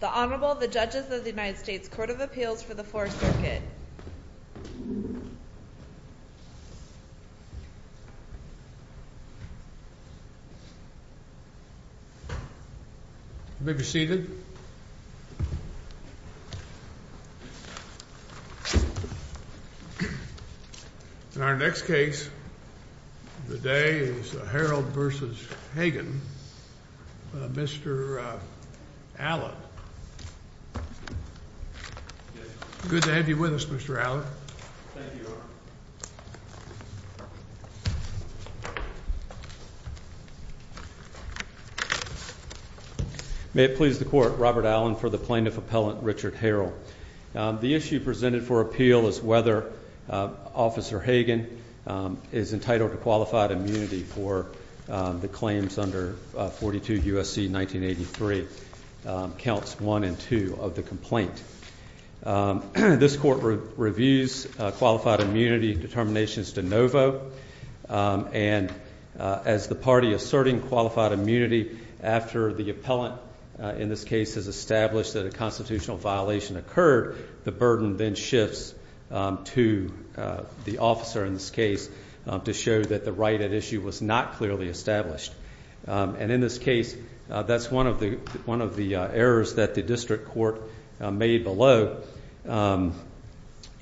The Honorable, the Judges of the United States Court of Appeals for the Fourth Circuit. You may be seated. In our next case today is Harrold v. Hagen. Mr. Allen. Good to have you with us, Mr. Allen. Thank you, Your Honor. May it please the Court, Robert Allen for the Plaintiff Appellant Richard Harrold. The issue presented for appeal is whether Officer Hagen is entitled to qualified immunity for the claims under 42 U.S.C. 1983, counts 1 and 2 of the complaint. This Court reviews qualified immunity determinations de novo. And as the party asserting qualified immunity after the appellant in this case has established that a constitutional violation occurred, the burden then shifts to the officer in this case to show that the right at issue was not clearly established. And in this case, that's one of the errors that the district court made below.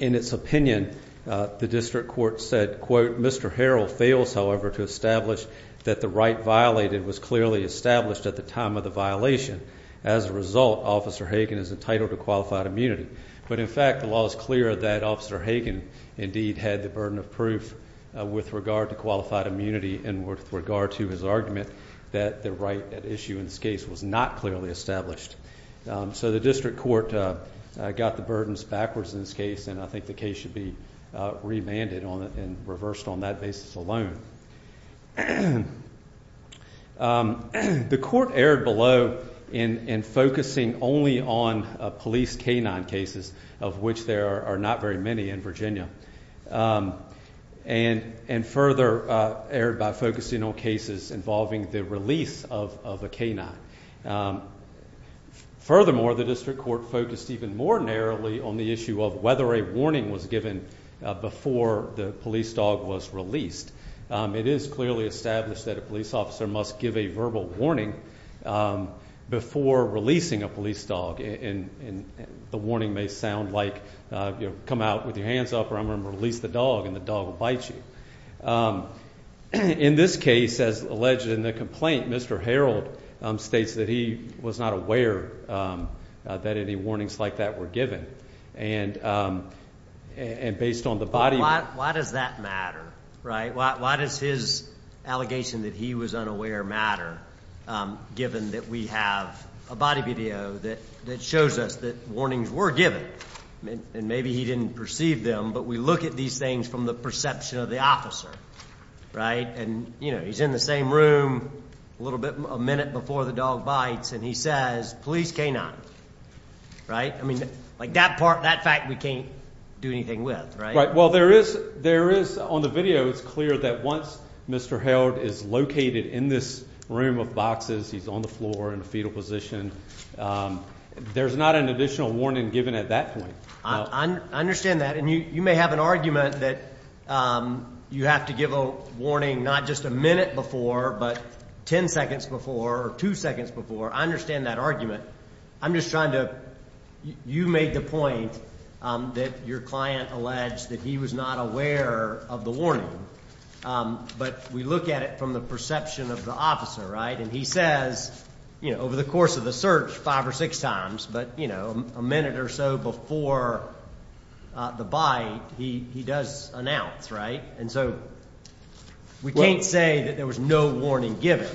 In its opinion, the district court said, quote, Mr. Harrold fails, however, to establish that the right violated was clearly established at the time of the violation. As a result, Officer Hagen is entitled to qualified immunity. But in fact, the law is clear that Officer Hagen indeed had the burden of proof with regard to qualified immunity and with regard to his argument that the right at issue in this case was not clearly established. So the district court got the burdens backwards in this case, and I think the case should be remanded on it and reversed on that basis alone. The court erred below in focusing only on police canine cases, of which there are not very many in Virginia, and further erred by focusing on cases involving the release of a canine. Furthermore, the district court focused even more narrowly on the issue of whether a warning was given before the police dog was released. It is clearly established that a police officer must give a verbal warning before releasing a police dog, and the warning may sound like, you know, come out with your hands up or I'm going to release the dog and the dog will bite you. In this case, as alleged in the complaint, Mr. Harold states that he was not aware that any warnings like that were given, and based on the body. Why does that matter, right? Why does his allegation that he was unaware matter, given that we have a body video that shows us that warnings were given? And maybe he didn't perceive them, but we look at these things from the perception of the officer, right? And, you know, he's in the same room a little bit, a minute before the dog bites, and he says, police canine, right? I mean, like that part, that fact, we can't do anything with, right? Well, there is on the video, it's clear that once Mr. Harold is located in this room of boxes, he's on the floor in a fetal position. There's not an additional warning given at that point. I understand that. And you may have an argument that you have to give a warning not just a minute before but ten seconds before or two seconds before. I understand that argument. I'm just trying to you made the point that your client alleged that he was not aware of the warning. But we look at it from the perception of the officer, right? And he says, you know, over the course of the search, five or six times, but, you know, a minute or so before the bite, he does announce, right? And so we can't say that there was no warning given.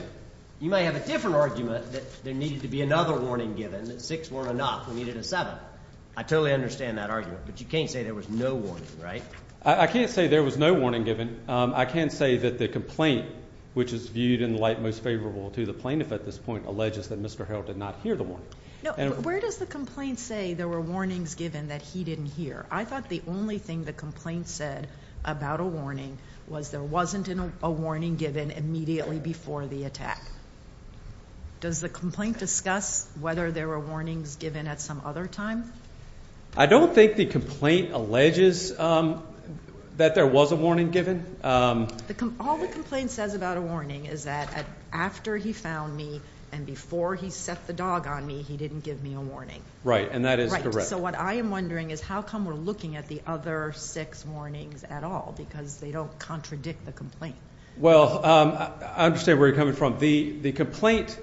You may have a different argument that there needed to be another warning given, that six weren't enough. We needed a seven. I totally understand that argument. But you can't say there was no warning, right? I can't say there was no warning given. And I can say that the complaint, which is viewed in the light most favorable to the plaintiff at this point, alleges that Mr. Harrell did not hear the warning. Where does the complaint say there were warnings given that he didn't hear? I thought the only thing the complaint said about a warning was there wasn't a warning given immediately before the attack. Does the complaint discuss whether there were warnings given at some other time? I don't think the complaint alleges that there was a warning given. All the complaint says about a warning is that after he found me and before he set the dog on me, he didn't give me a warning. Right, and that is correct. So what I am wondering is how come we're looking at the other six warnings at all because they don't contradict the complaint. Well, I understand where you're coming from. The complaint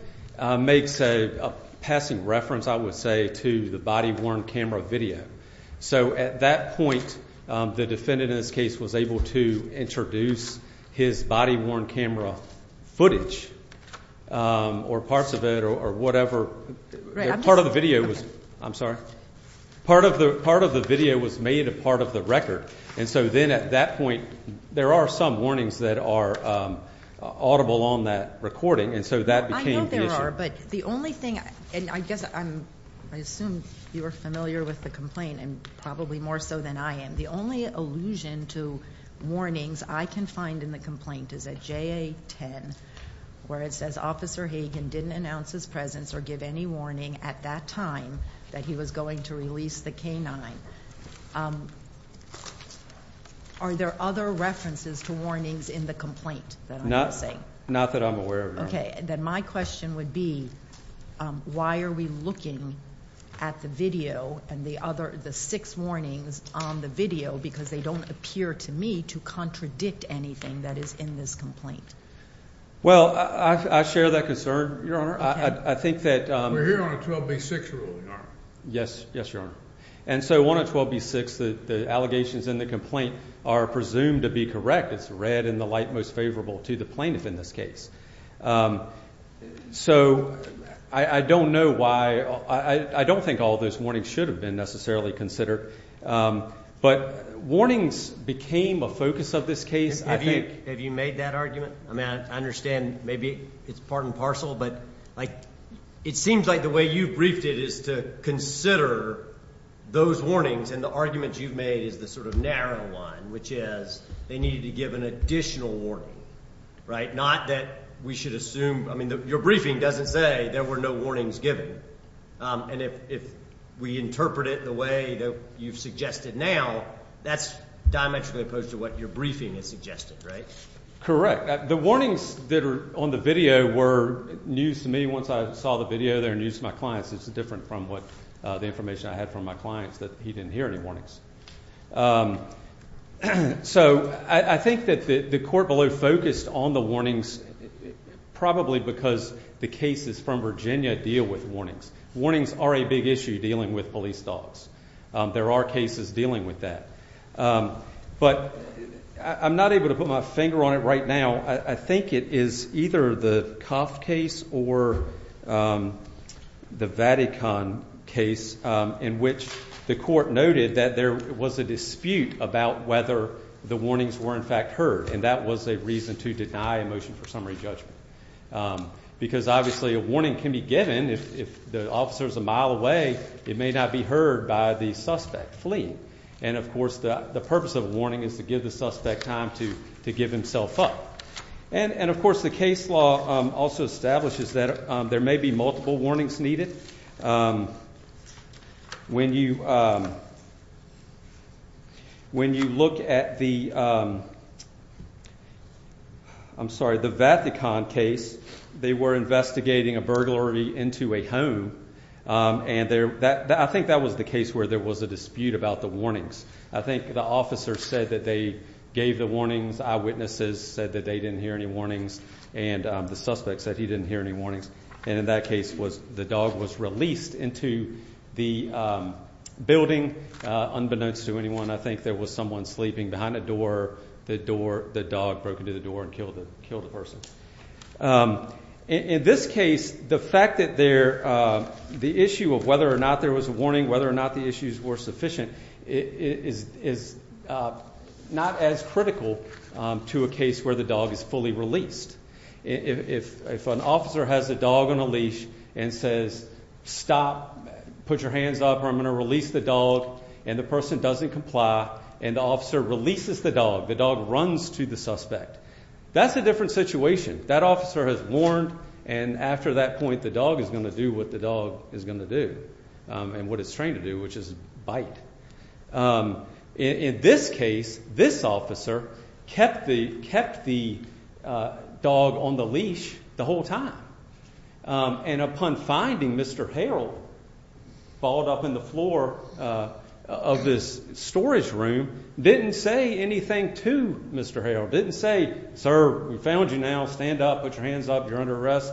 makes a passing reference, I would say, to the body-worn camera video. So at that point, the defendant in this case was able to introduce his body-worn camera footage or parts of it or whatever. Part of the video was made a part of the record. And so then at that point, there are some warnings that are audible on that recording. And so that became the issue. I know there are, but the only thing, and I guess I assume you are familiar with the complaint and probably more so than I am. The only allusion to warnings I can find in the complaint is at JA-10 where it says Officer Hagen didn't announce his presence or give any warning at that time that he was going to release the canine. Are there other references to warnings in the complaint that I'm guessing? Not that I'm aware of, Your Honor. Okay. Then my question would be why are we looking at the video and the other, the six warnings on the video because they don't appear to me to contradict anything that is in this complaint? Well, I share that concern, Your Honor. Okay. I think that... We're here on a 12-week six-year-old, Your Honor. Yes, Your Honor. And so on a 12-week six, the allegations in the complaint are presumed to be correct. It's read in the light most favorable to the plaintiff in this case. So I don't know why. I don't think all those warnings should have been necessarily considered. But warnings became a focus of this case, I think. Have you made that argument? I mean, I understand maybe it's part and parcel. But, like, it seems like the way you briefed it is to consider those warnings and the argument you've made is the sort of narrow one, which is they needed to give an additional warning, right? Not that we should assume. I mean, your briefing doesn't say there were no warnings given. And if we interpret it the way that you've suggested now, that's diametrically opposed to what your briefing has suggested, right? Correct. The warnings that are on the video were news to me once I saw the video. They're news to my clients. It's different from the information I had from my clients that he didn't hear any warnings. So I think that the court below focused on the warnings probably because the cases from Virginia deal with warnings. Warnings are a big issue dealing with police dogs. There are cases dealing with that. But I'm not able to put my finger on it right now. I think it is either the cough case or the Vatican case in which the court noted that there was a dispute about whether the warnings were, in fact, heard. And that was a reason to deny a motion for summary judgment because, obviously, a warning can be given. If the officer is a mile away, it may not be heard by the suspect fleeing. And, of course, the purpose of a warning is to give the suspect time to give himself up. And, of course, the case law also establishes that there may be multiple warnings needed. When you look at the Vatican case, they were investigating a burglary into a home. And I think that was the case where there was a dispute about the warnings. I think the officer said that they gave the warnings. Eyewitnesses said that they didn't hear any warnings. And the suspect said he didn't hear any warnings. And in that case, the dog was released into the building unbeknownst to anyone. I think there was someone sleeping behind the door. The dog broke into the door and killed the person. In this case, the fact that the issue of whether or not there was a warning, whether or not the issues were sufficient, is not as critical to a case where the dog is fully released. If an officer has a dog on a leash and says, stop, put your hands up, or I'm going to release the dog, and the person doesn't comply and the officer releases the dog, the dog runs to the suspect, that's a different situation. That officer has warned, and after that point, the dog is going to do what the dog is going to do and what it's trained to do, which is bite. In this case, this officer kept the dog on the leash the whole time. And upon finding Mr. Harrell, followed up in the floor of this storage room, didn't say anything to Mr. Harrell, didn't say, sir, we found you now, stand up, put your hands up, you're under arrest,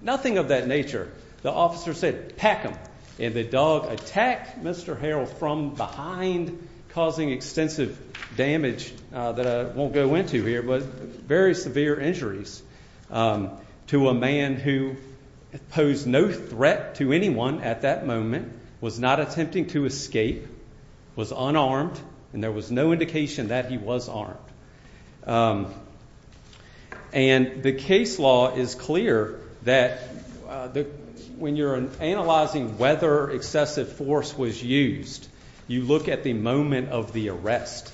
nothing of that nature. The officer said, pack him, and the dog attacked Mr. Harrell from behind, causing extensive damage that I won't go into here, but very severe injuries to a man who posed no threat to anyone at that moment, was not attempting to escape, was unarmed, and there was no indication that he was armed. And the case law is clear that when you're analyzing whether excessive force was used, you look at the moment of the arrest.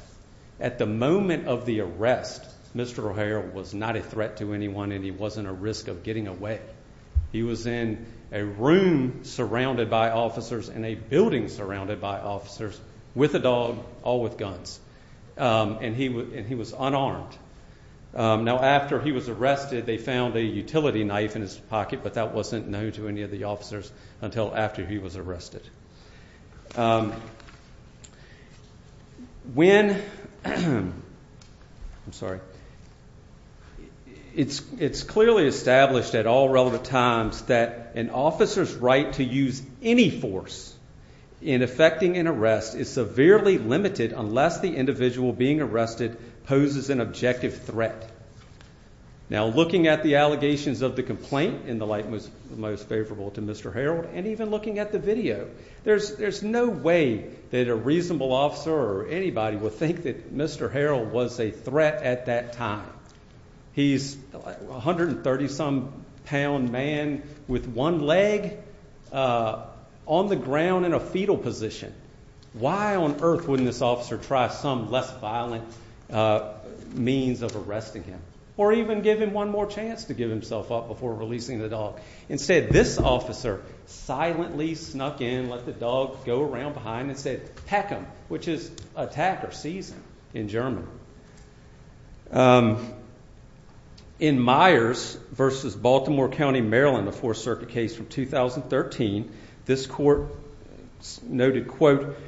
At the moment of the arrest, Mr. Harrell was not a threat to anyone and he wasn't a risk of getting away. He was in a room surrounded by officers and a building surrounded by officers with a dog, all with guns. And he was unarmed. Now, after he was arrested, they found a utility knife in his pocket, but that wasn't known to any of the officers until after he was arrested. When, I'm sorry, it's clearly established at all relevant times that an officer's right to use any force in effecting an arrest is severely limited unless the individual being arrested poses an objective threat. Now, looking at the allegations of the complaint, in the light most favorable to Mr. Harrell, and even looking at the video, there's no way that a reasonable officer or anybody would think that Mr. Harrell was a threat at that time. He's a 130-some pound man with one leg on the ground in a fetal position. Why on earth wouldn't this officer try some less violent means of arresting him or even give him one more chance to give himself up before releasing the dog? Instead, this officer silently snuck in, let the dog go around behind and said, Peck him, which is attack or seize him in German. In Myers v. Baltimore County, Maryland, a Fourth Circuit case from 2013, this court noted, quote,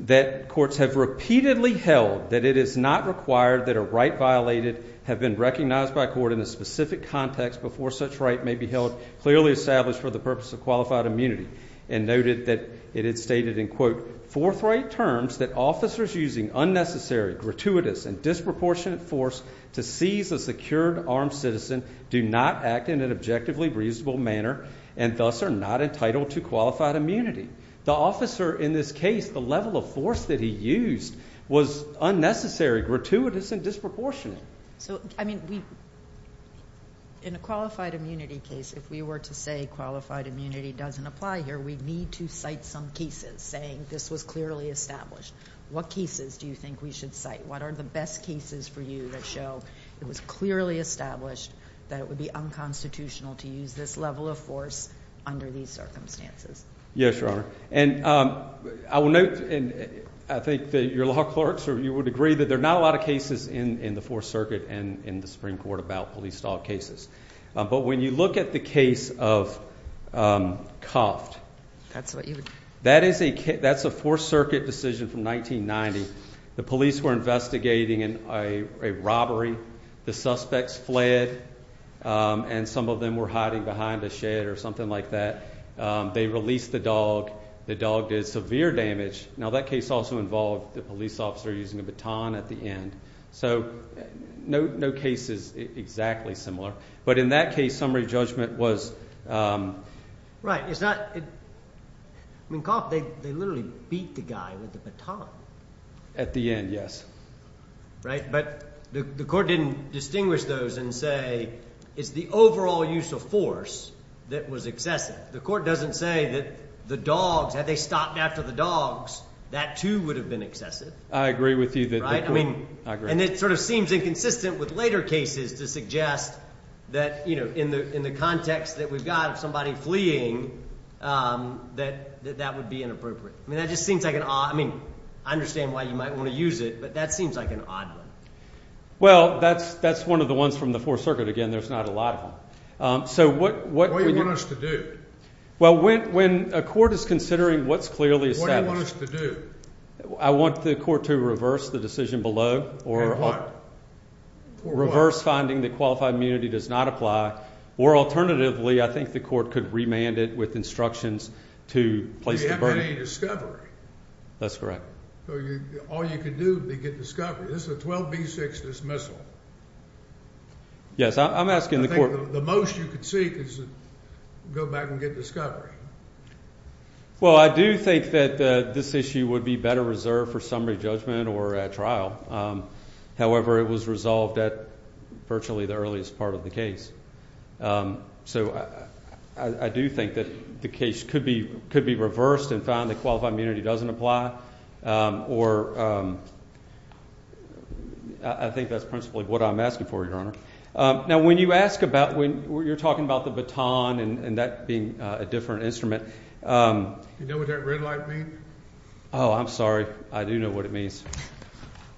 that courts have repeatedly held that it is not required that a right violated have been recognized by court in a specific context before such right may be held clearly established for the purpose of qualified immunity, and noted that it is stated in, quote, forthright terms that officers using unnecessary, gratuitous, and disproportionate force to seize a secured armed citizen do not act in an objectively reasonable manner and thus are not entitled to qualified immunity. The officer in this case, the level of force that he used was unnecessary, gratuitous, and disproportionate. So, I mean, in a qualified immunity case, if we were to say qualified immunity doesn't apply here, we'd need to cite some cases saying this was clearly established. What cases do you think we should cite? What are the best cases for you that show it was clearly established that it would be unconstitutional to use this level of force under these circumstances? Yes, Your Honor. And I will note, and I think that your law clerks, you would agree, that there are not a lot of cases in the Fourth Circuit and in the Supreme Court about police dog cases. But when you look at the case of Koft, that is a Fourth Circuit decision from 1990. The police were investigating a robbery. The suspects fled, and some of them were hiding behind a shed or something like that. They released the dog. The dog did severe damage. Now, that case also involved the police officer using a baton at the end. So no case is exactly similar. But in that case, summary judgment was— Right. It's not—I mean, Koft, they literally beat the guy with the baton. At the end, yes. Right, but the court didn't distinguish those and say it's the overall use of force that was excessive. The court doesn't say that the dogs, had they stopped after the dogs, that, too, would have been excessive. I agree with you that the court—I agree. And it sort of seems inconsistent with later cases to suggest that, you know, in the context that we've got of somebody fleeing, that that would be inappropriate. I mean, that just seems like an odd—I mean, I understand why you might want to use it, but that seems like an odd one. Well, that's one of the ones from the Fourth Circuit. Again, there's not a lot of them. So what— What do you want us to do? Well, when a court is considering what's clearly established— What do you want us to do? I want the court to reverse the decision below or— And what? Reverse finding that qualified immunity does not apply. Or alternatively, I think the court could remand it with instructions to place the burden. You haven't got any discovery. That's correct. So all you can do is get discovery. This is a 12B6 dismissal. Yes, I'm asking the court— The most you could seek is to go back and get discovery. Well, I do think that this issue would be better reserved for summary judgment or at trial. However, it was resolved at virtually the earliest part of the case. So I do think that the case could be reversed and found that qualified immunity doesn't apply. Or I think that's principally what I'm asking for, Your Honor. Now, when you ask about—when you're talking about the baton and that being a different instrument— Do you know what that red light means? Oh, I'm sorry. I do know what it means.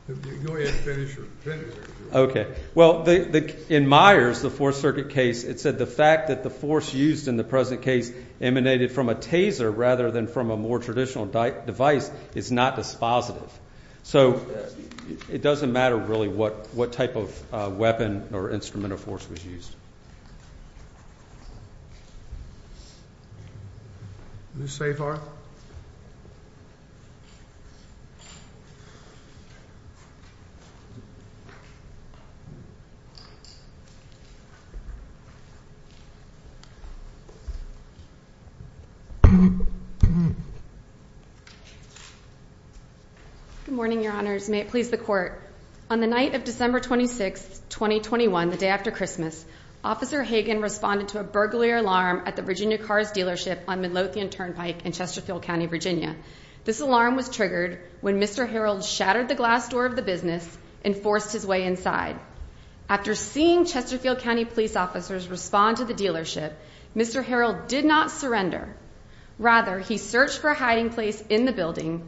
Go ahead and finish your sentence. Okay. Well, in Myers, the Fourth Circuit case, it said the fact that the force used in the present case emanated from a taser rather than from a more traditional device is not dispositive. So it doesn't matter really what type of weapon or instrument of force was used. Ms. Safar? Good morning, Your Honors. May it please the Court. On the night of December 26, 2021, the day after Christmas, Officer Hagan responded to a burglary alarm at the Virginia Cars dealership on Midlothian Turnpike in Chesterfield County, Virginia. This alarm was triggered when Mr. Harreld shattered the glass door of the business and forced his way inside. After seeing Chesterfield County police officers respond to the dealership, Mr. Harreld did not surrender. Rather, he searched for a hiding place in the building,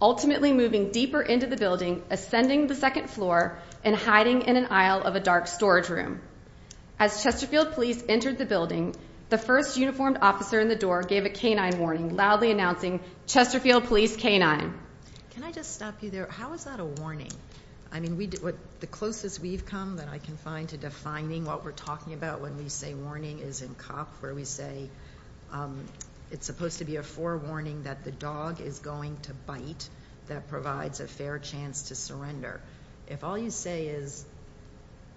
ultimately moving deeper into the building, ascending the second floor and hiding in an aisle of a dark storage room. As Chesterfield police entered the building, the first uniformed officer in the door gave a canine warning, loudly announcing, Chesterfield police canine. Can I just stop you there? How is that a warning? I mean, the closest we've come that I can find to defining what we're talking about when we say warning is in cop, where we say it's supposed to be a forewarning that the dog is going to bite that provides a fair chance to surrender. If all you say is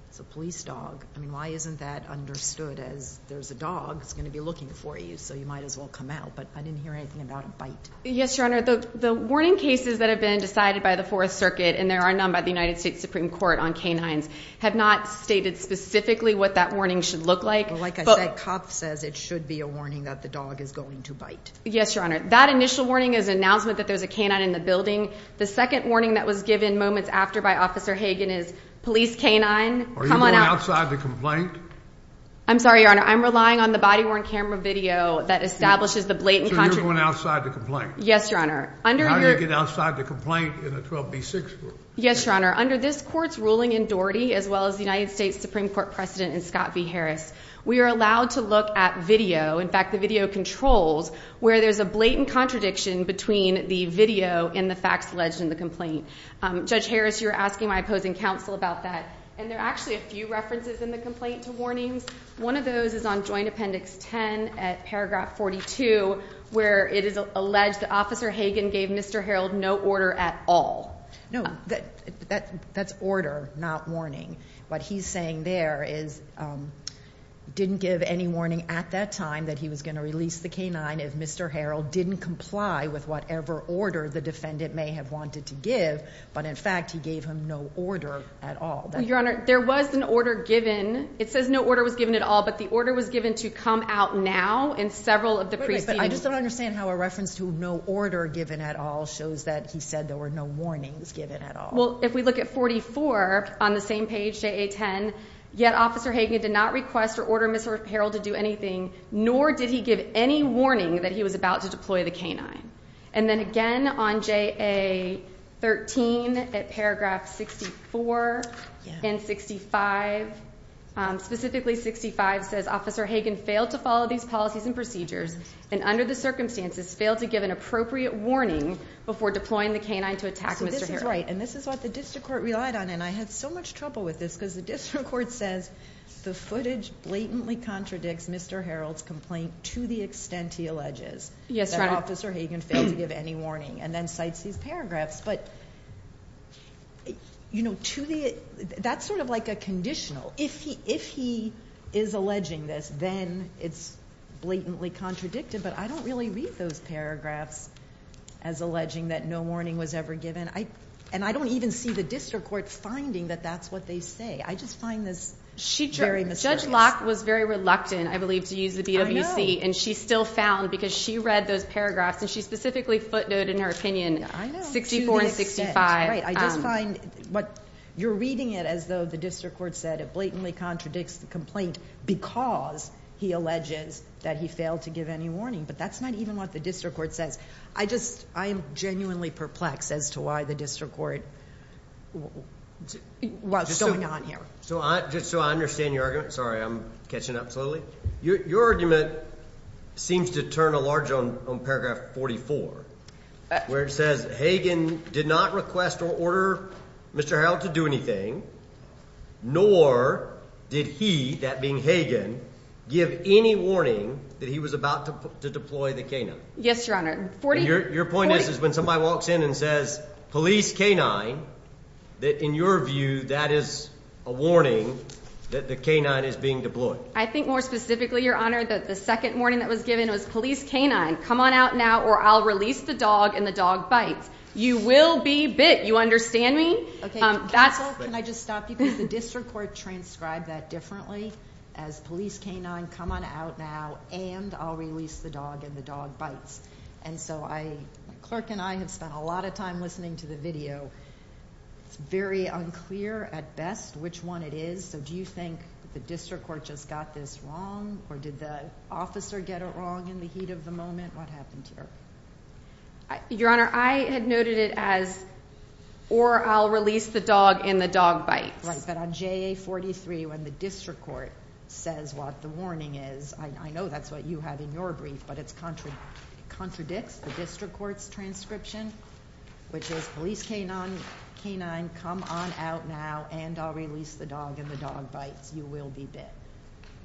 it's a police dog, I mean, why isn't that understood as there's a dog that's going to be looking for you, so you might as well come out? But I didn't hear anything about a bite. Yes, Your Honor. The warning cases that have been decided by the Fourth Circuit, and there are none by the United States Supreme Court on canines, have not stated specifically what that warning should look like. Well, like I said, cop says it should be a warning that the dog is going to bite. Yes, Your Honor. That initial warning is an announcement that there's a canine in the building. The second warning that was given moments after by Officer Hagan is police canine, come on out. Are you going outside to complain? I'm sorry, Your Honor. I'm relying on the body-worn camera video that establishes the blatant contradiction. So you're going outside to complain? Yes, Your Honor. How do you get outside to complain in a 12B6 room? Yes, Your Honor. Under this Court's ruling in Doherty, as well as the United States Supreme Court precedent in Scott v. Harris, we are allowed to look at video, in fact the video controls, where there's a blatant contradiction between the video and the facts alleged in the complaint. Judge Harris, you were asking my opposing counsel about that, and there are actually a few references in the complaint to warnings. One of those is on Joint Appendix 10 at paragraph 42, where it is alleged that Officer Hagan gave Mr. Harold no order at all. No, that's order, not warning. What he's saying there is he didn't give any warning at that time that he was going to release the canine if Mr. Harold didn't comply with whatever order the defendant may have wanted to give, but in fact he gave him no order at all. Your Honor, there was an order given. It says no order was given at all, but the order was given to come out now in several of the precedents. I just don't understand how a reference to no order given at all shows that he said there were no warnings given at all. Well, if we look at 44 on the same page, J.A. 10, yet Officer Hagan did not request or order Mr. Harold to do anything, nor did he give any warning that he was about to deploy the canine. And then again on J.A. 13 at paragraph 64 and 65, specifically 65 says Officer Hagan failed to follow these policies and procedures and under the circumstances failed to give an appropriate warning before deploying the canine to attack Mr. Harold. So this is right, and this is what the district court relied on, and I had so much trouble with this because the district court says the footage blatantly contradicts Mr. Harold's complaint to the extent he alleges that Officer Hagan failed to give any warning and then cites these paragraphs. But that's sort of like a conditional. If he is alleging this, then it's blatantly contradicted, but I don't really read those paragraphs as alleging that no warning was ever given, and I don't even see the district court finding that that's what they say. I just find this very mysterious. Judge Locke was very reluctant, I believe, to use the BWC, and she still found because she read those paragraphs, and she specifically footnoted in her opinion 64 and 65. You're reading it as though the district court said it blatantly contradicts the complaint because he alleges that he failed to give any warning, but that's not even what the district court says. I am genuinely perplexed as to why the district court was going on here. Just so I understand your argument. Sorry, I'm catching up slowly. Your argument seems to turn a large on paragraph 44 where it says Hagan did not request or order Mr. Harold to do anything, nor did he, that being Hagan, give any warning that he was about to deploy the K-9. Yes, Your Honor. Your point is when somebody walks in and says police K-9, that in your view that is a warning that the K-9 is being deployed. I think more specifically, Your Honor, that the second warning that was given was police K-9, come on out now or I'll release the dog and the dog bites. You will be bit. You understand me? Counsel, can I just stop you because the district court transcribed that differently as police K-9, come on out now and I'll release the dog and the dog bites. And so the clerk and I have spent a lot of time listening to the video. It's very unclear at best which one it is. So do you think the district court just got this wrong or did the officer get it wrong in the heat of the moment? What happened here? Your Honor, I had noted it as or I'll release the dog and the dog bites. Right, but on JA-43 when the district court says what the warning is, I know that's what you had in your brief, but it contradicts the district court's transcription, which is police K-9, come on out now and I'll release the dog and the dog bites. You will be bit.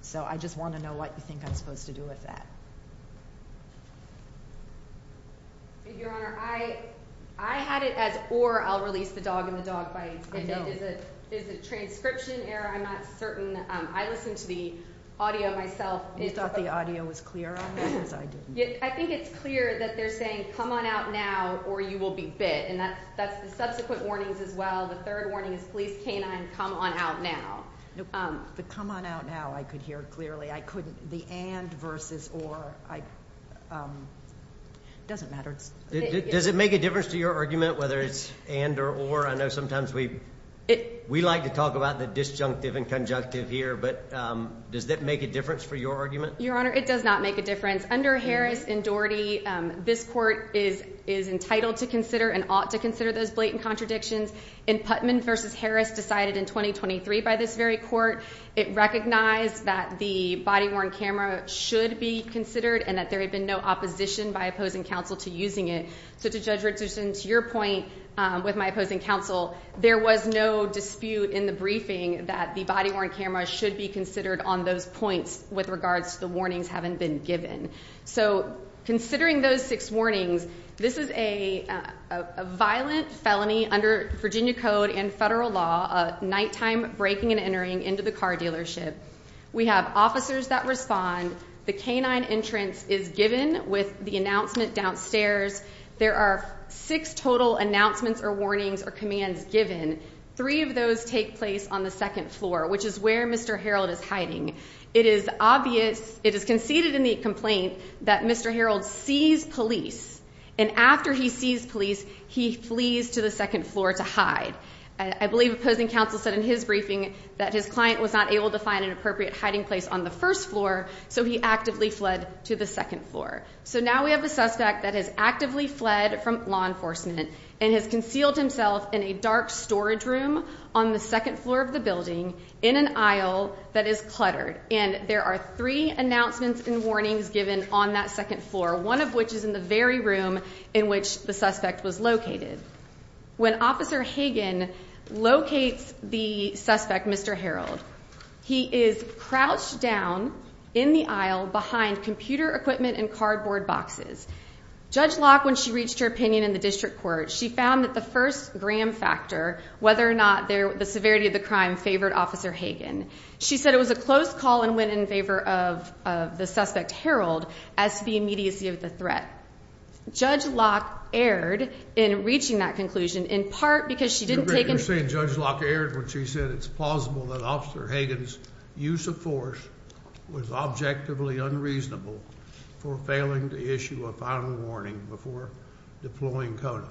So I just want to know what you think I'm supposed to do with that. Your Honor, I had it as or I'll release the dog and the dog bites. I know. Is it transcription error? I'm not certain. I listened to the audio myself. You thought the audio was clear on that because I didn't. I think it's clear that they're saying come on out now or you will be bit, and that's the subsequent warnings as well. The third warning is police K-9, come on out now. The come on out now I could hear clearly. I couldn't. The and versus or, it doesn't matter. Does it make a difference to your argument whether it's and or or? I know sometimes we like to talk about the disjunctive and conjunctive here, but does that make a difference for your argument? Your Honor, it does not make a difference. Under Harris and Doherty, this court is entitled to consider and ought to consider those blatant contradictions. In Putnam versus Harris decided in 2023 by this very court, it recognized that the body-worn camera should be considered and that there had been no opposition by opposing counsel to using it. So to judge Richardson, to your point with my opposing counsel, there was no dispute in the briefing that the body-worn camera should be considered on those points with regards to the warnings having been given. So considering those six warnings, this is a violent felony under Virginia code and federal law, nighttime breaking and entering into the car dealership. We have officers that respond. The K-9 entrance is given with the announcement downstairs. There are six total announcements or warnings or commands given. Three of those take place on the second floor, which is where Mr. Harreld is hiding. It is obvious, it is conceded in the complaint, that Mr. Harreld sees police, and after he sees police, he flees to the second floor to hide. I believe opposing counsel said in his briefing that his client was not able to find an appropriate hiding place on the first floor, so he actively fled to the second floor. So now we have a suspect that has actively fled from law enforcement and has concealed himself in a dark storage room on the second floor of the building in an aisle that is cluttered, and there are three announcements and warnings given on that second floor, one of which is in the very room in which the suspect was located. When Officer Hagen locates the suspect, Mr. Harreld, he is crouched down in the aisle behind computer equipment and cardboard boxes. Judge Locke, when she reached her opinion in the district court, she found that the first gram factor, whether or not the severity of the crime favored Officer Hagen. She said it was a close call and went in favor of the suspect, Harreld, as to the immediacy of the threat. Judge Locke erred in reaching that conclusion in part because she didn't take You're saying Judge Locke erred when she said it's plausible that Officer Hagen's use of force was objectively unreasonable for failing to issue a final warning before deploying CODA.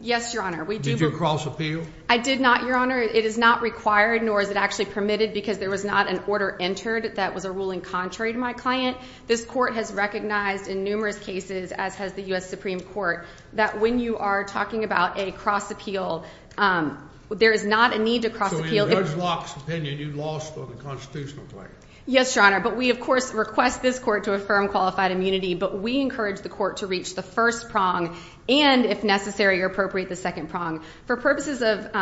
Yes, Your Honor. Did you cross appeal? I did not, Your Honor. It is not required, nor is it actually permitted, because there was not an order entered that was a ruling contrary to my client. This court has recognized in numerous cases, as has the U.S. Supreme Court, that when you are talking about a cross appeal, there is not a need to cross appeal. So in Judge Locke's opinion, you lost on the constitutional claim. Yes, Your Honor. But we, of course, request this court to affirm qualified immunity, but we encourage the court to reach the first prong, and if necessary, appropriate the second prong. For purposes of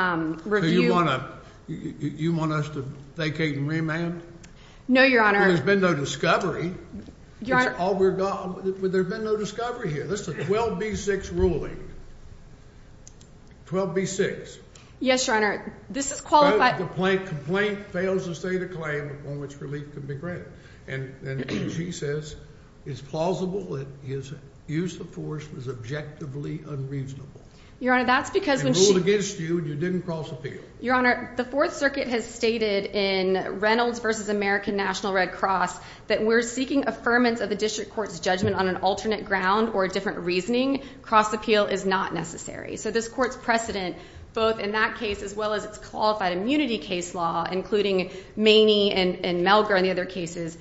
review. So you want us to vacate and remand? No, Your Honor. There's been no discovery. Your Honor. There's been no discovery here. This is a 12B6 ruling. 12B6. Yes, Your Honor. This is qualified. The complaint fails to state a claim on which relief can be granted. And she says it's plausible that his use of force was objectively unreasonable. Your Honor, that's because when she – And ruled against you, and you didn't cross appeal. Your Honor, the Fourth Circuit has stated in Reynolds v. American National Red Cross that we're seeking affirmance of the district court's judgment on an alternate ground or a different reasoning. Cross appeal is not necessary. So this court's precedent, both in that case as well as its qualified immunity case law, including Maney and Melgar in the other cases,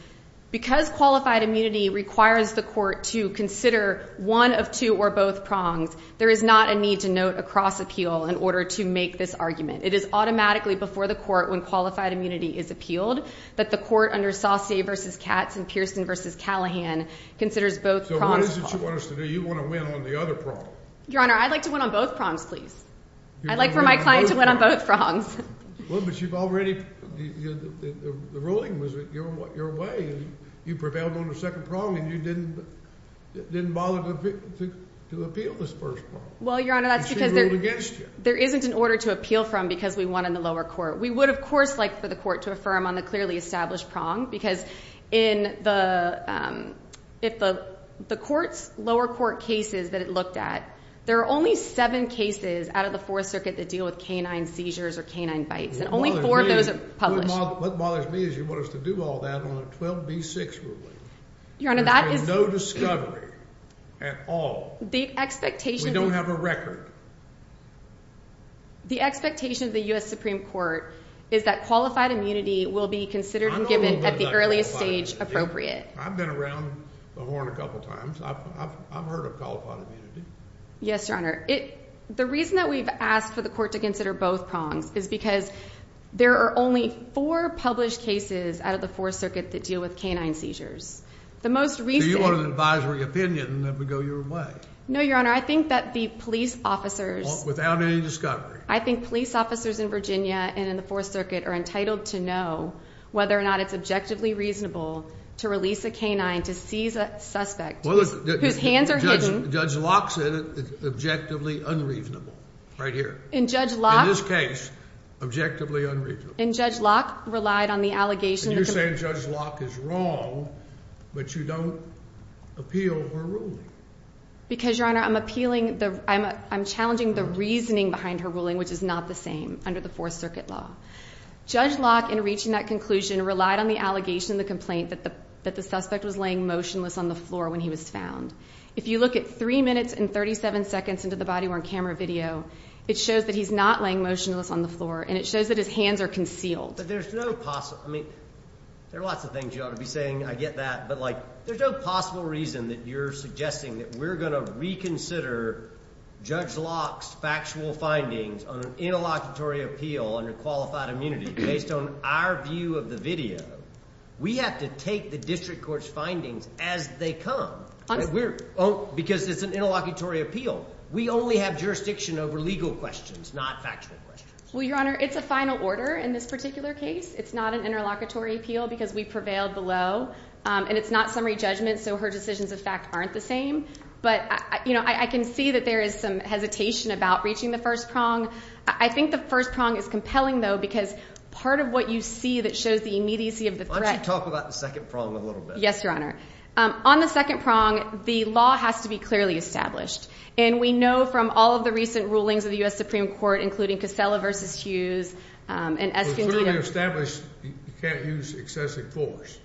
because qualified immunity requires the court to consider one of two or both prongs, there is not a need to note a cross appeal in order to make this argument. It is automatically before the court when qualified immunity is appealed, but the court under Saucier v. Katz and Pearson v. Callahan considers both prongs. So what is it you want us to do? You want to win on the other prong. Your Honor, I'd like to win on both prongs, please. I'd like for my client to win on both prongs. Well, but you've already, the ruling was your way. You prevailed on the second prong, and you didn't bother to appeal this first prong. Well, Your Honor, that's because there isn't an order to appeal from because we won in the lower court. We would, of course, like for the court to affirm on the clearly established prong because if the lower court cases that it looked at, there are only seven cases out of the Fourth Circuit that deal with canine seizures or canine bites, and only four of those are published. What bothers me is you want us to do all that on a 12B6 ruling. There's been no discovery at all. We don't have a record. The expectation of the U.S. Supreme Court is that qualified immunity will be considered and given at the earliest stage appropriate. I've been around the horn a couple times. I've heard of qualified immunity. Yes, Your Honor. The reason that we've asked for the court to consider both prongs is because there are only four published cases out of the Fourth Circuit that deal with canine seizures. Do you want an advisory opinion that would go your way? No, Your Honor. I think that the police officers. Without any discovery. I think police officers in Virginia and in the Fourth Circuit are entitled to know whether or not it's objectively reasonable to release a canine to seize a suspect. Whose hands are hidden. Judge Locke said it's objectively unreasonable right here. In Judge Locke. In this case, objectively unreasonable. And Judge Locke relied on the allegation. And you're saying Judge Locke is wrong, but you don't appeal her ruling. Because, Your Honor, I'm appealing. I'm challenging the reasoning behind her ruling, which is not the same under the Fourth Circuit law. Judge Locke, in reaching that conclusion, relied on the allegation in the complaint that the suspect was laying motionless on the floor when he was found. If you look at three minutes and 37 seconds into the body-worn camera video, it shows that he's not laying motionless on the floor. And it shows that his hands are concealed. But there's no possible. I mean, there are lots of things you ought to be saying. I get that. But, like, there's no possible reason that you're suggesting that we're going to reconsider Judge Locke's factual findings on an interlocutory appeal under qualified immunity based on our view of the video. We have to take the district court's findings as they come. Because it's an interlocutory appeal. We only have jurisdiction over legal questions, not factual questions. Well, Your Honor, it's a final order in this particular case. It's not an interlocutory appeal because we prevailed below. And it's not summary judgment, so her decisions, in fact, aren't the same. But, you know, I can see that there is some hesitation about reaching the first prong. I think the first prong is compelling, though, because part of what you see that shows the immediacy of the threat. Why don't you talk about the second prong a little bit? Yes, Your Honor. On the second prong, the law has to be clearly established. And we know from all of the recent rulings of the U.S. Supreme Court, including Casella v. Hughes and Escondido. For clearly established, you can't use excessive force.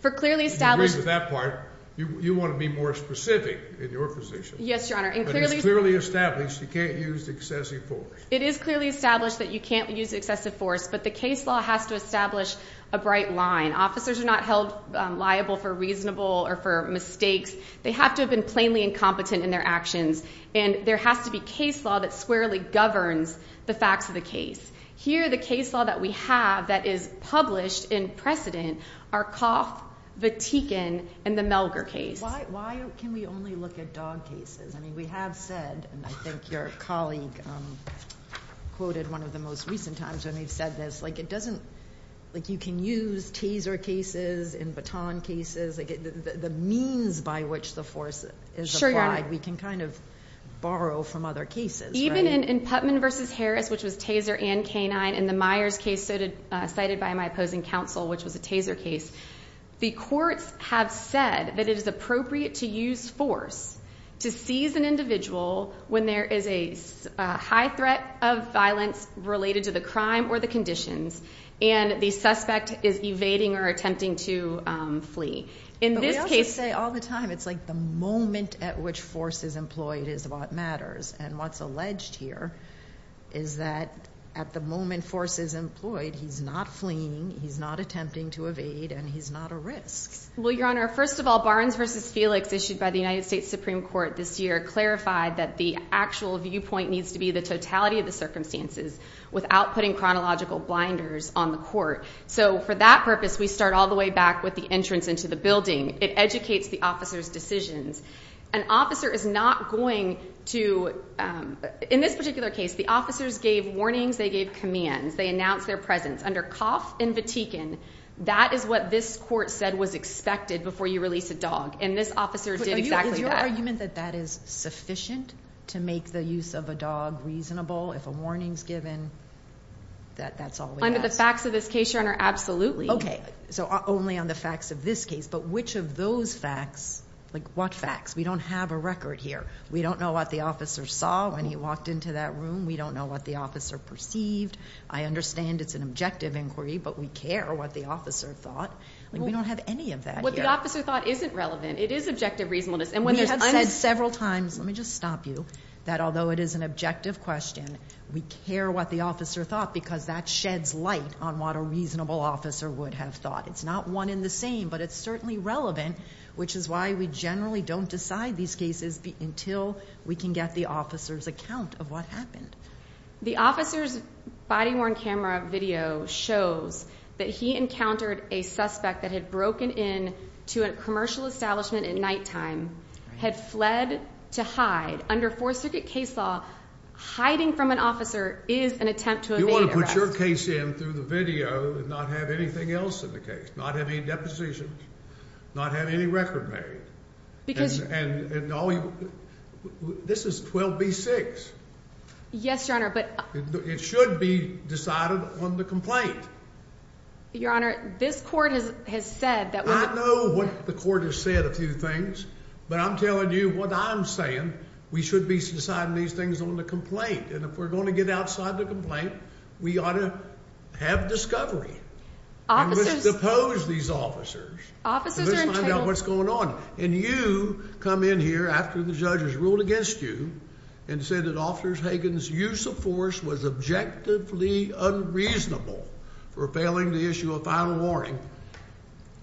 For clearly established. I agree with that part. You want to be more specific in your position. Yes, Your Honor. But it's clearly established you can't use excessive force. It is clearly established that you can't use excessive force. But the case law has to establish a bright line. Officers are not held liable for reasonable or for mistakes. They have to have been plainly incompetent in their actions. And there has to be case law that squarely governs the facts of the case. Here, the case law that we have that is published in precedent are Coff, Vatican, and the Melger case. Why can we only look at dog cases? I mean, we have said, and I think your colleague quoted one of the most recent times when they've said this, like it doesn't, like you can use taser cases and baton cases, the means by which the force is applied, we can kind of borrow from other cases. Even in Putman v. Harris, which was taser and canine, in the Myers case cited by my opposing counsel, which was a taser case, the courts have said that it is appropriate to use force to seize an individual when there is a high threat of violence related to the crime or the conditions and the suspect is evading or attempting to flee. But we also say all the time, it's like the moment at which force is employed is what matters. And what's alleged here is that at the moment force is employed, he's not fleeing, he's not attempting to evade, and he's not a risk. Well, Your Honor, first of all, Barnes v. Felix, issued by the United States Supreme Court this year, clarified that the actual viewpoint needs to be the totality of the circumstances without putting chronological blinders on the court. So for that purpose, we start all the way back with the entrance into the building. It educates the officer's decisions. An officer is not going to, in this particular case, the officers gave warnings, they gave commands, they announced their presence. Under Coff and Vatican, that is what this court said was expected before you release a dog, and this officer did exactly that. Is your argument that that is sufficient to make the use of a dog reasonable if a warning is given? That's all we ask. Under the facts of this case, Your Honor, absolutely. Okay, so only on the facts of this case, but which of those facts, like what facts? We don't have a record here. We don't know what the officer saw when he walked into that room. We don't know what the officer perceived. I understand it's an objective inquiry, but we care what the officer thought. We don't have any of that here. What the officer thought isn't relevant. It is objective reasonableness. We have said several times, let me just stop you, that although it is an objective question, we care what the officer thought because that sheds light on what a reasonable officer would have thought. It's not one and the same, but it's certainly relevant, which is why we generally don't decide these cases until we can get the officer's account of what happened. The officer's body-worn camera video shows that he encountered a suspect that had broken in to a commercial establishment at nighttime, had fled to hide. Under Fourth Circuit case law, hiding from an officer is an attempt to evade arrest. You want to put your case in through the video and not have anything else in the case, not have any depositions, not have any record made. This is 12b-6. Yes, Your Honor, but... It should be decided on the complaint. Your Honor, this court has said that... I know what the court has said a few things, but I'm telling you what I'm saying. We should be deciding these things on the complaint, and if we're going to get outside the complaint, we ought to have discovery. Officers... And let's depose these officers. Officers are entitled... Let's find out what's going on. And you come in here after the judge has ruled against you and said that Officer Hagan's use of force was objectively unreasonable for failing to issue a final warning,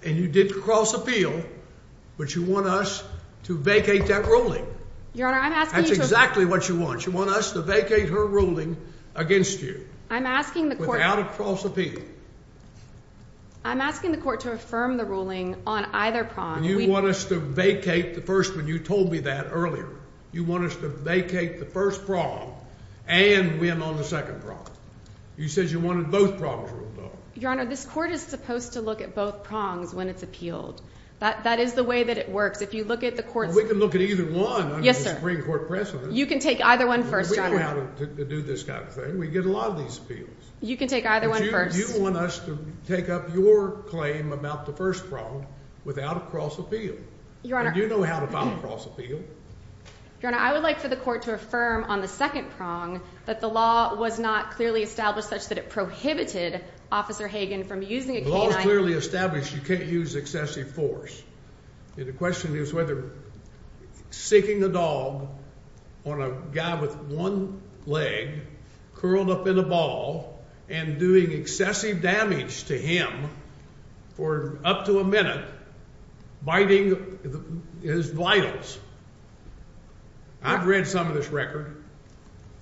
and you did cross appeal, but you want us to vacate that ruling. Your Honor, I'm asking you to... I'm asking the court... Without a cross appeal. I'm asking the court to affirm the ruling on either prong. And you want us to vacate the first one. You told me that earlier. You want us to vacate the first prong and win on the second prong. You said you wanted both prongs ruled on. Your Honor, this court is supposed to look at both prongs when it's appealed. That is the way that it works. If you look at the court's... Well, we can look at either one under the Supreme Court precedent. You can take either one first, Your Honor. We know how to do this kind of thing. We get a lot of these appeals. You can take either one first. But you want us to take up your claim about the first prong without a cross appeal. Your Honor... And you know how to file a cross appeal. Your Honor, I would like for the court to affirm on the second prong that the law was not clearly established such that it prohibited Officer Hagan from using a canine... The law is clearly established you can't use excessive force. The question is whether seeking a dog on a guy with one leg curled up in a ball and doing excessive damage to him for up to a minute biting his vitals. I've read some of this record.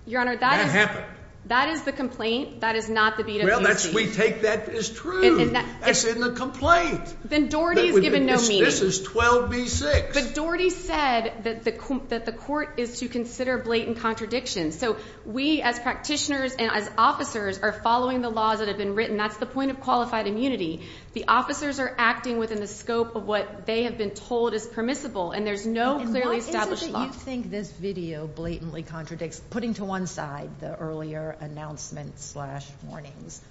Your Honor, that is... That is the complaint. That is not the beat up you see. Well, we take that as true. That's in the complaint. Then Doherty's given no meaning. This is 12b-6. But Doherty said that the court is to consider blatant contradictions. So we as practitioners and as officers are following the laws that have been written. That's the point of qualified immunity. The officers are acting within the scope of what they have been told is permissible. And there's no clearly established law. And why is it that you think this video blatantly contradicts putting to one side the earlier announcements slash warnings?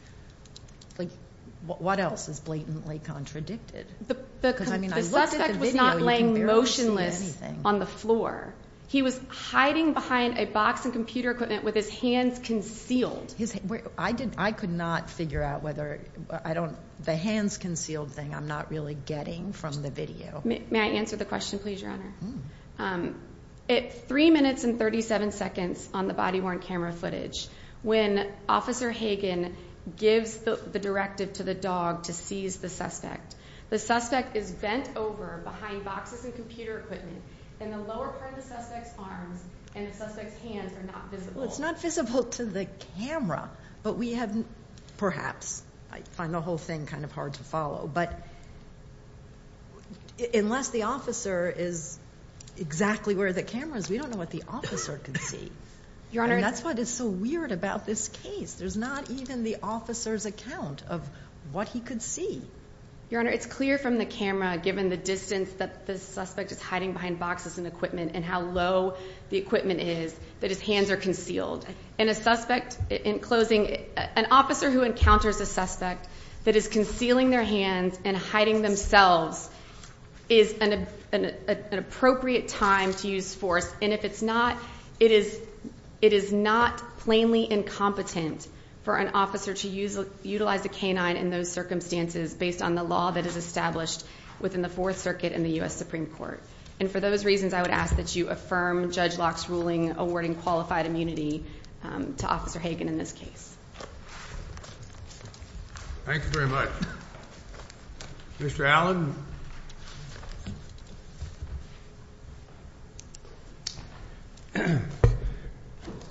What else is blatantly contradicted? The suspect was not laying motionless on the floor. He was hiding behind a box of computer equipment with his hands concealed. I could not figure out whether the hands concealed thing I'm not really getting from the video. May I answer the question, please, Your Honor? At 3 minutes and 37 seconds on the body-worn camera footage, when Officer Hagen gives the directive to the dog to seize the suspect, the suspect is bent over behind boxes of computer equipment and the lower part of the suspect's arms and the suspect's hands are not visible. Well, it's not visible to the camera, but we have perhaps. I find the whole thing kind of hard to follow. But unless the officer is exactly where the camera is, we don't know what the officer could see. Your Honor. And that's what is so weird about this case. There's not even the officer's account of what he could see. Your Honor, it's clear from the camera, given the distance that the suspect is hiding behind boxes of equipment and how low the equipment is, that his hands are concealed. And a suspect, in closing, an officer who encounters a suspect that is concealing their hands and hiding themselves is an appropriate time to use force. And if it's not, it is not plainly incompetent for an officer to utilize a canine in those circumstances based on the law that is established within the Fourth Circuit and the U.S. Supreme Court. And for those reasons, I would ask that you affirm Judge Locke's ruling awarding qualified immunity to Officer Hagan in this case. Thank you very much. Mr. Allen.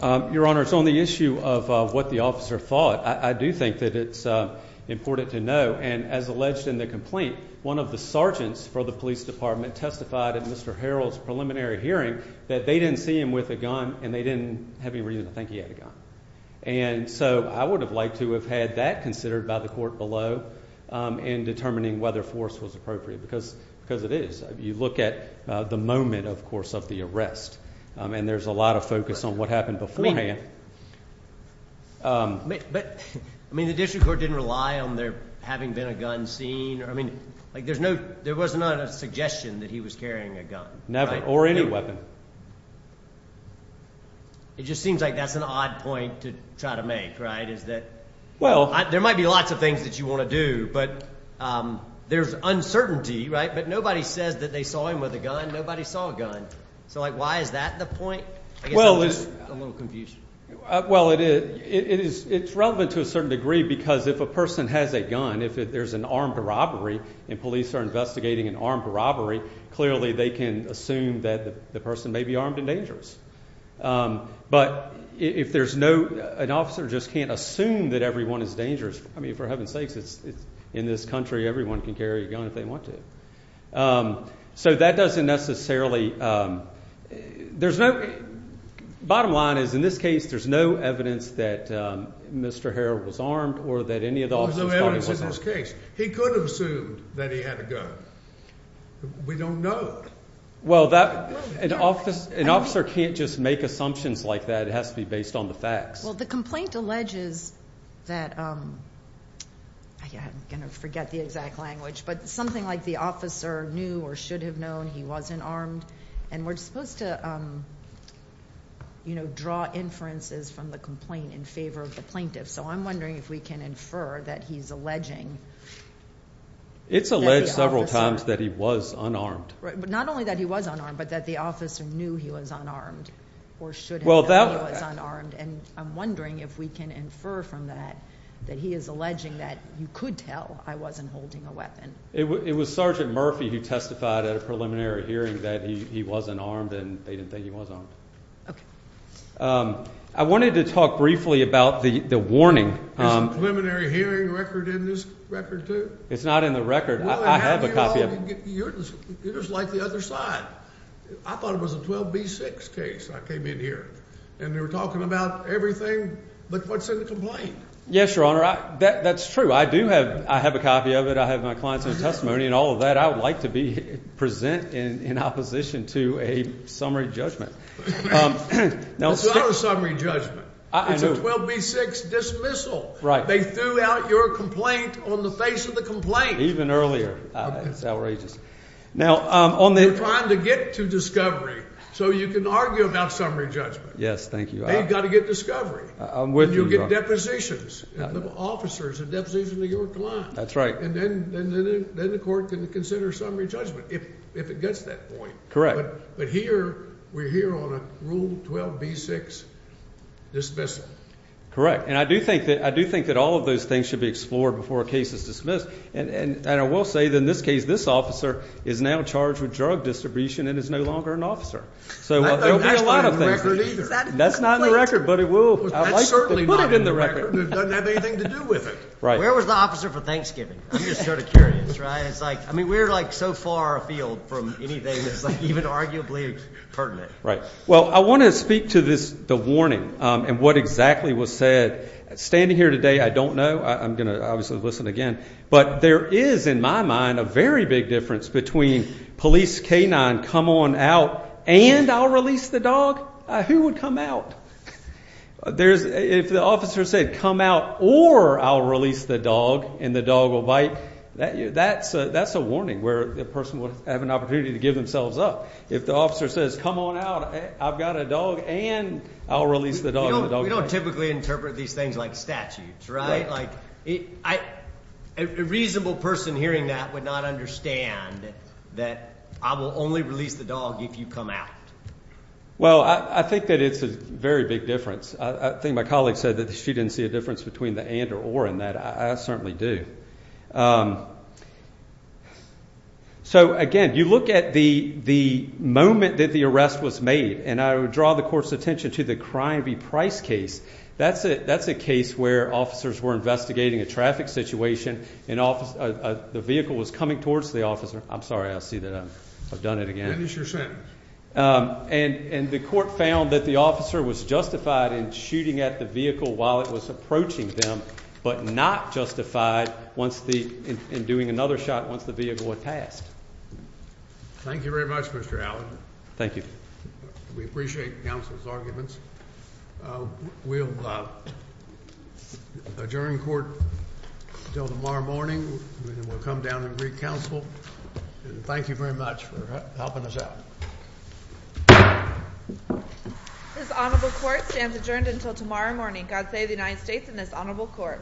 Your Honor, it's on the issue of what the officer thought. I do think that it's important to know, and as alleged in the complaint, one of the sergeants for the police department testified at Mr. Harrell's preliminary hearing that they didn't see him with a gun and they didn't have any reason to think he had a gun. And so I would have liked to have had that considered by the court below in determining whether force was appropriate because it is. You look at the moment, of course, of the arrest, and there's a lot of focus on what happened beforehand. But, I mean, the district court didn't rely on there having been a gun scene. I mean, like there's no, there was not a suggestion that he was carrying a gun. Never, or any weapon. It just seems like that's an odd point to try to make, right, is that there might be lots of things that you want to do, but there's uncertainty, right? But nobody says that they saw him with a gun. Nobody saw a gun. So, like, why is that the point? I guess I'm just a little confused. Well, it is relevant to a certain degree because if a person has a gun, if there's an armed robbery and police are investigating an armed robbery, clearly they can assume that the person may be armed and dangerous. But if there's no, an officer just can't assume that everyone is dangerous, I mean, for heaven's sakes, in this country everyone can carry a gun if they want to. So that doesn't necessarily, there's no, bottom line is in this case there's no evidence that Mr. Harrell was armed or that any of the officers thought he was armed. There's no evidence in this case. He could have assumed that he had a gun. We don't know. Well, an officer can't just make assumptions like that. It has to be based on the facts. Well, the complaint alleges that, I'm going to forget the exact language, but something like the officer knew or should have known he wasn't armed. And we're supposed to, you know, draw inferences from the complaint in favor of the plaintiff. So I'm wondering if we can infer that he's alleging that the officer. It's alleged several times that he was unarmed. Right, but not only that he was unarmed, but that the officer knew he was unarmed or should have known he was unarmed. And I'm wondering if we can infer from that that he is alleging that you could tell I wasn't holding a weapon. It was Sergeant Murphy who testified at a preliminary hearing that he wasn't armed and they didn't think he was armed. Okay. I wanted to talk briefly about the warning. Is the preliminary hearing record in this record too? It's not in the record. I have a copy of it. You're just like the other side. I thought it was a 12B6 case I came in here. And they were talking about everything but what's in the complaint. Yes, Your Honor, that's true. I do have a copy of it. I have my client's own testimony and all of that. I would like to present in opposition to a summary judgment. It's not a summary judgment. I know. It's a 12B6 dismissal. Right. They threw out your complaint on the face of the complaint. Even earlier. It's outrageous. We're trying to get to discovery so you can argue about summary judgment. Yes, thank you. They've got to get discovery. I'm with you, Your Honor. And you'll get depositions. Officers, a deposition to your client. That's right. And then the court can consider summary judgment if it gets to that point. Correct. But here, we're here on a Rule 12B6 dismissal. Correct. And I do think that all of those things should be explored before a case is dismissed. And I will say that in this case, this officer is now charged with drug distribution and is no longer an officer. So there will be a lot of things. That's not in the record. But it will. I'd like to put it in the record. It doesn't have anything to do with it. Right. Where was the officer for Thanksgiving? I'm just sort of curious. I mean, we're, like, so far afield from anything that's even arguably pertinent. Right. Well, I want to speak to the warning and what exactly was said. Standing here today, I don't know. I'm going to obviously listen again. But there is, in my mind, a very big difference between police canine, come on out, and I'll release the dog. Who would come out? If the officer said, come out, or I'll release the dog and the dog will bite, that's a warning where the person would have an opportunity to give themselves up. If the officer says, come on out, I've got a dog, and I'll release the dog and the dog will bite. We don't typically interpret these things like statutes. Right. Like, a reasonable person hearing that would not understand that I will only release the dog if you come out. Well, I think that it's a very big difference. I think my colleague said that she didn't see a difference between the and or or in that. I certainly do. So, again, you look at the moment that the arrest was made, and I would draw the court's attention to the Crime v. Price case. That's it. That's a case where officers were investigating a traffic situation in office. The vehicle was coming towards the officer. I'm sorry. I'll see that I've done it again. Finish your sentence. And the court found that the officer was justified in shooting at the vehicle while it was approaching them, but not justified once the in doing another shot once the vehicle was passed. Thank you very much, Mr. Allen. Thank you. We appreciate counsel's arguments. We'll adjourn court till tomorrow morning. We'll come down and recounsel. Thank you very much for helping us out. This honorable court stands adjourned until tomorrow morning. God save the United States and this honorable court.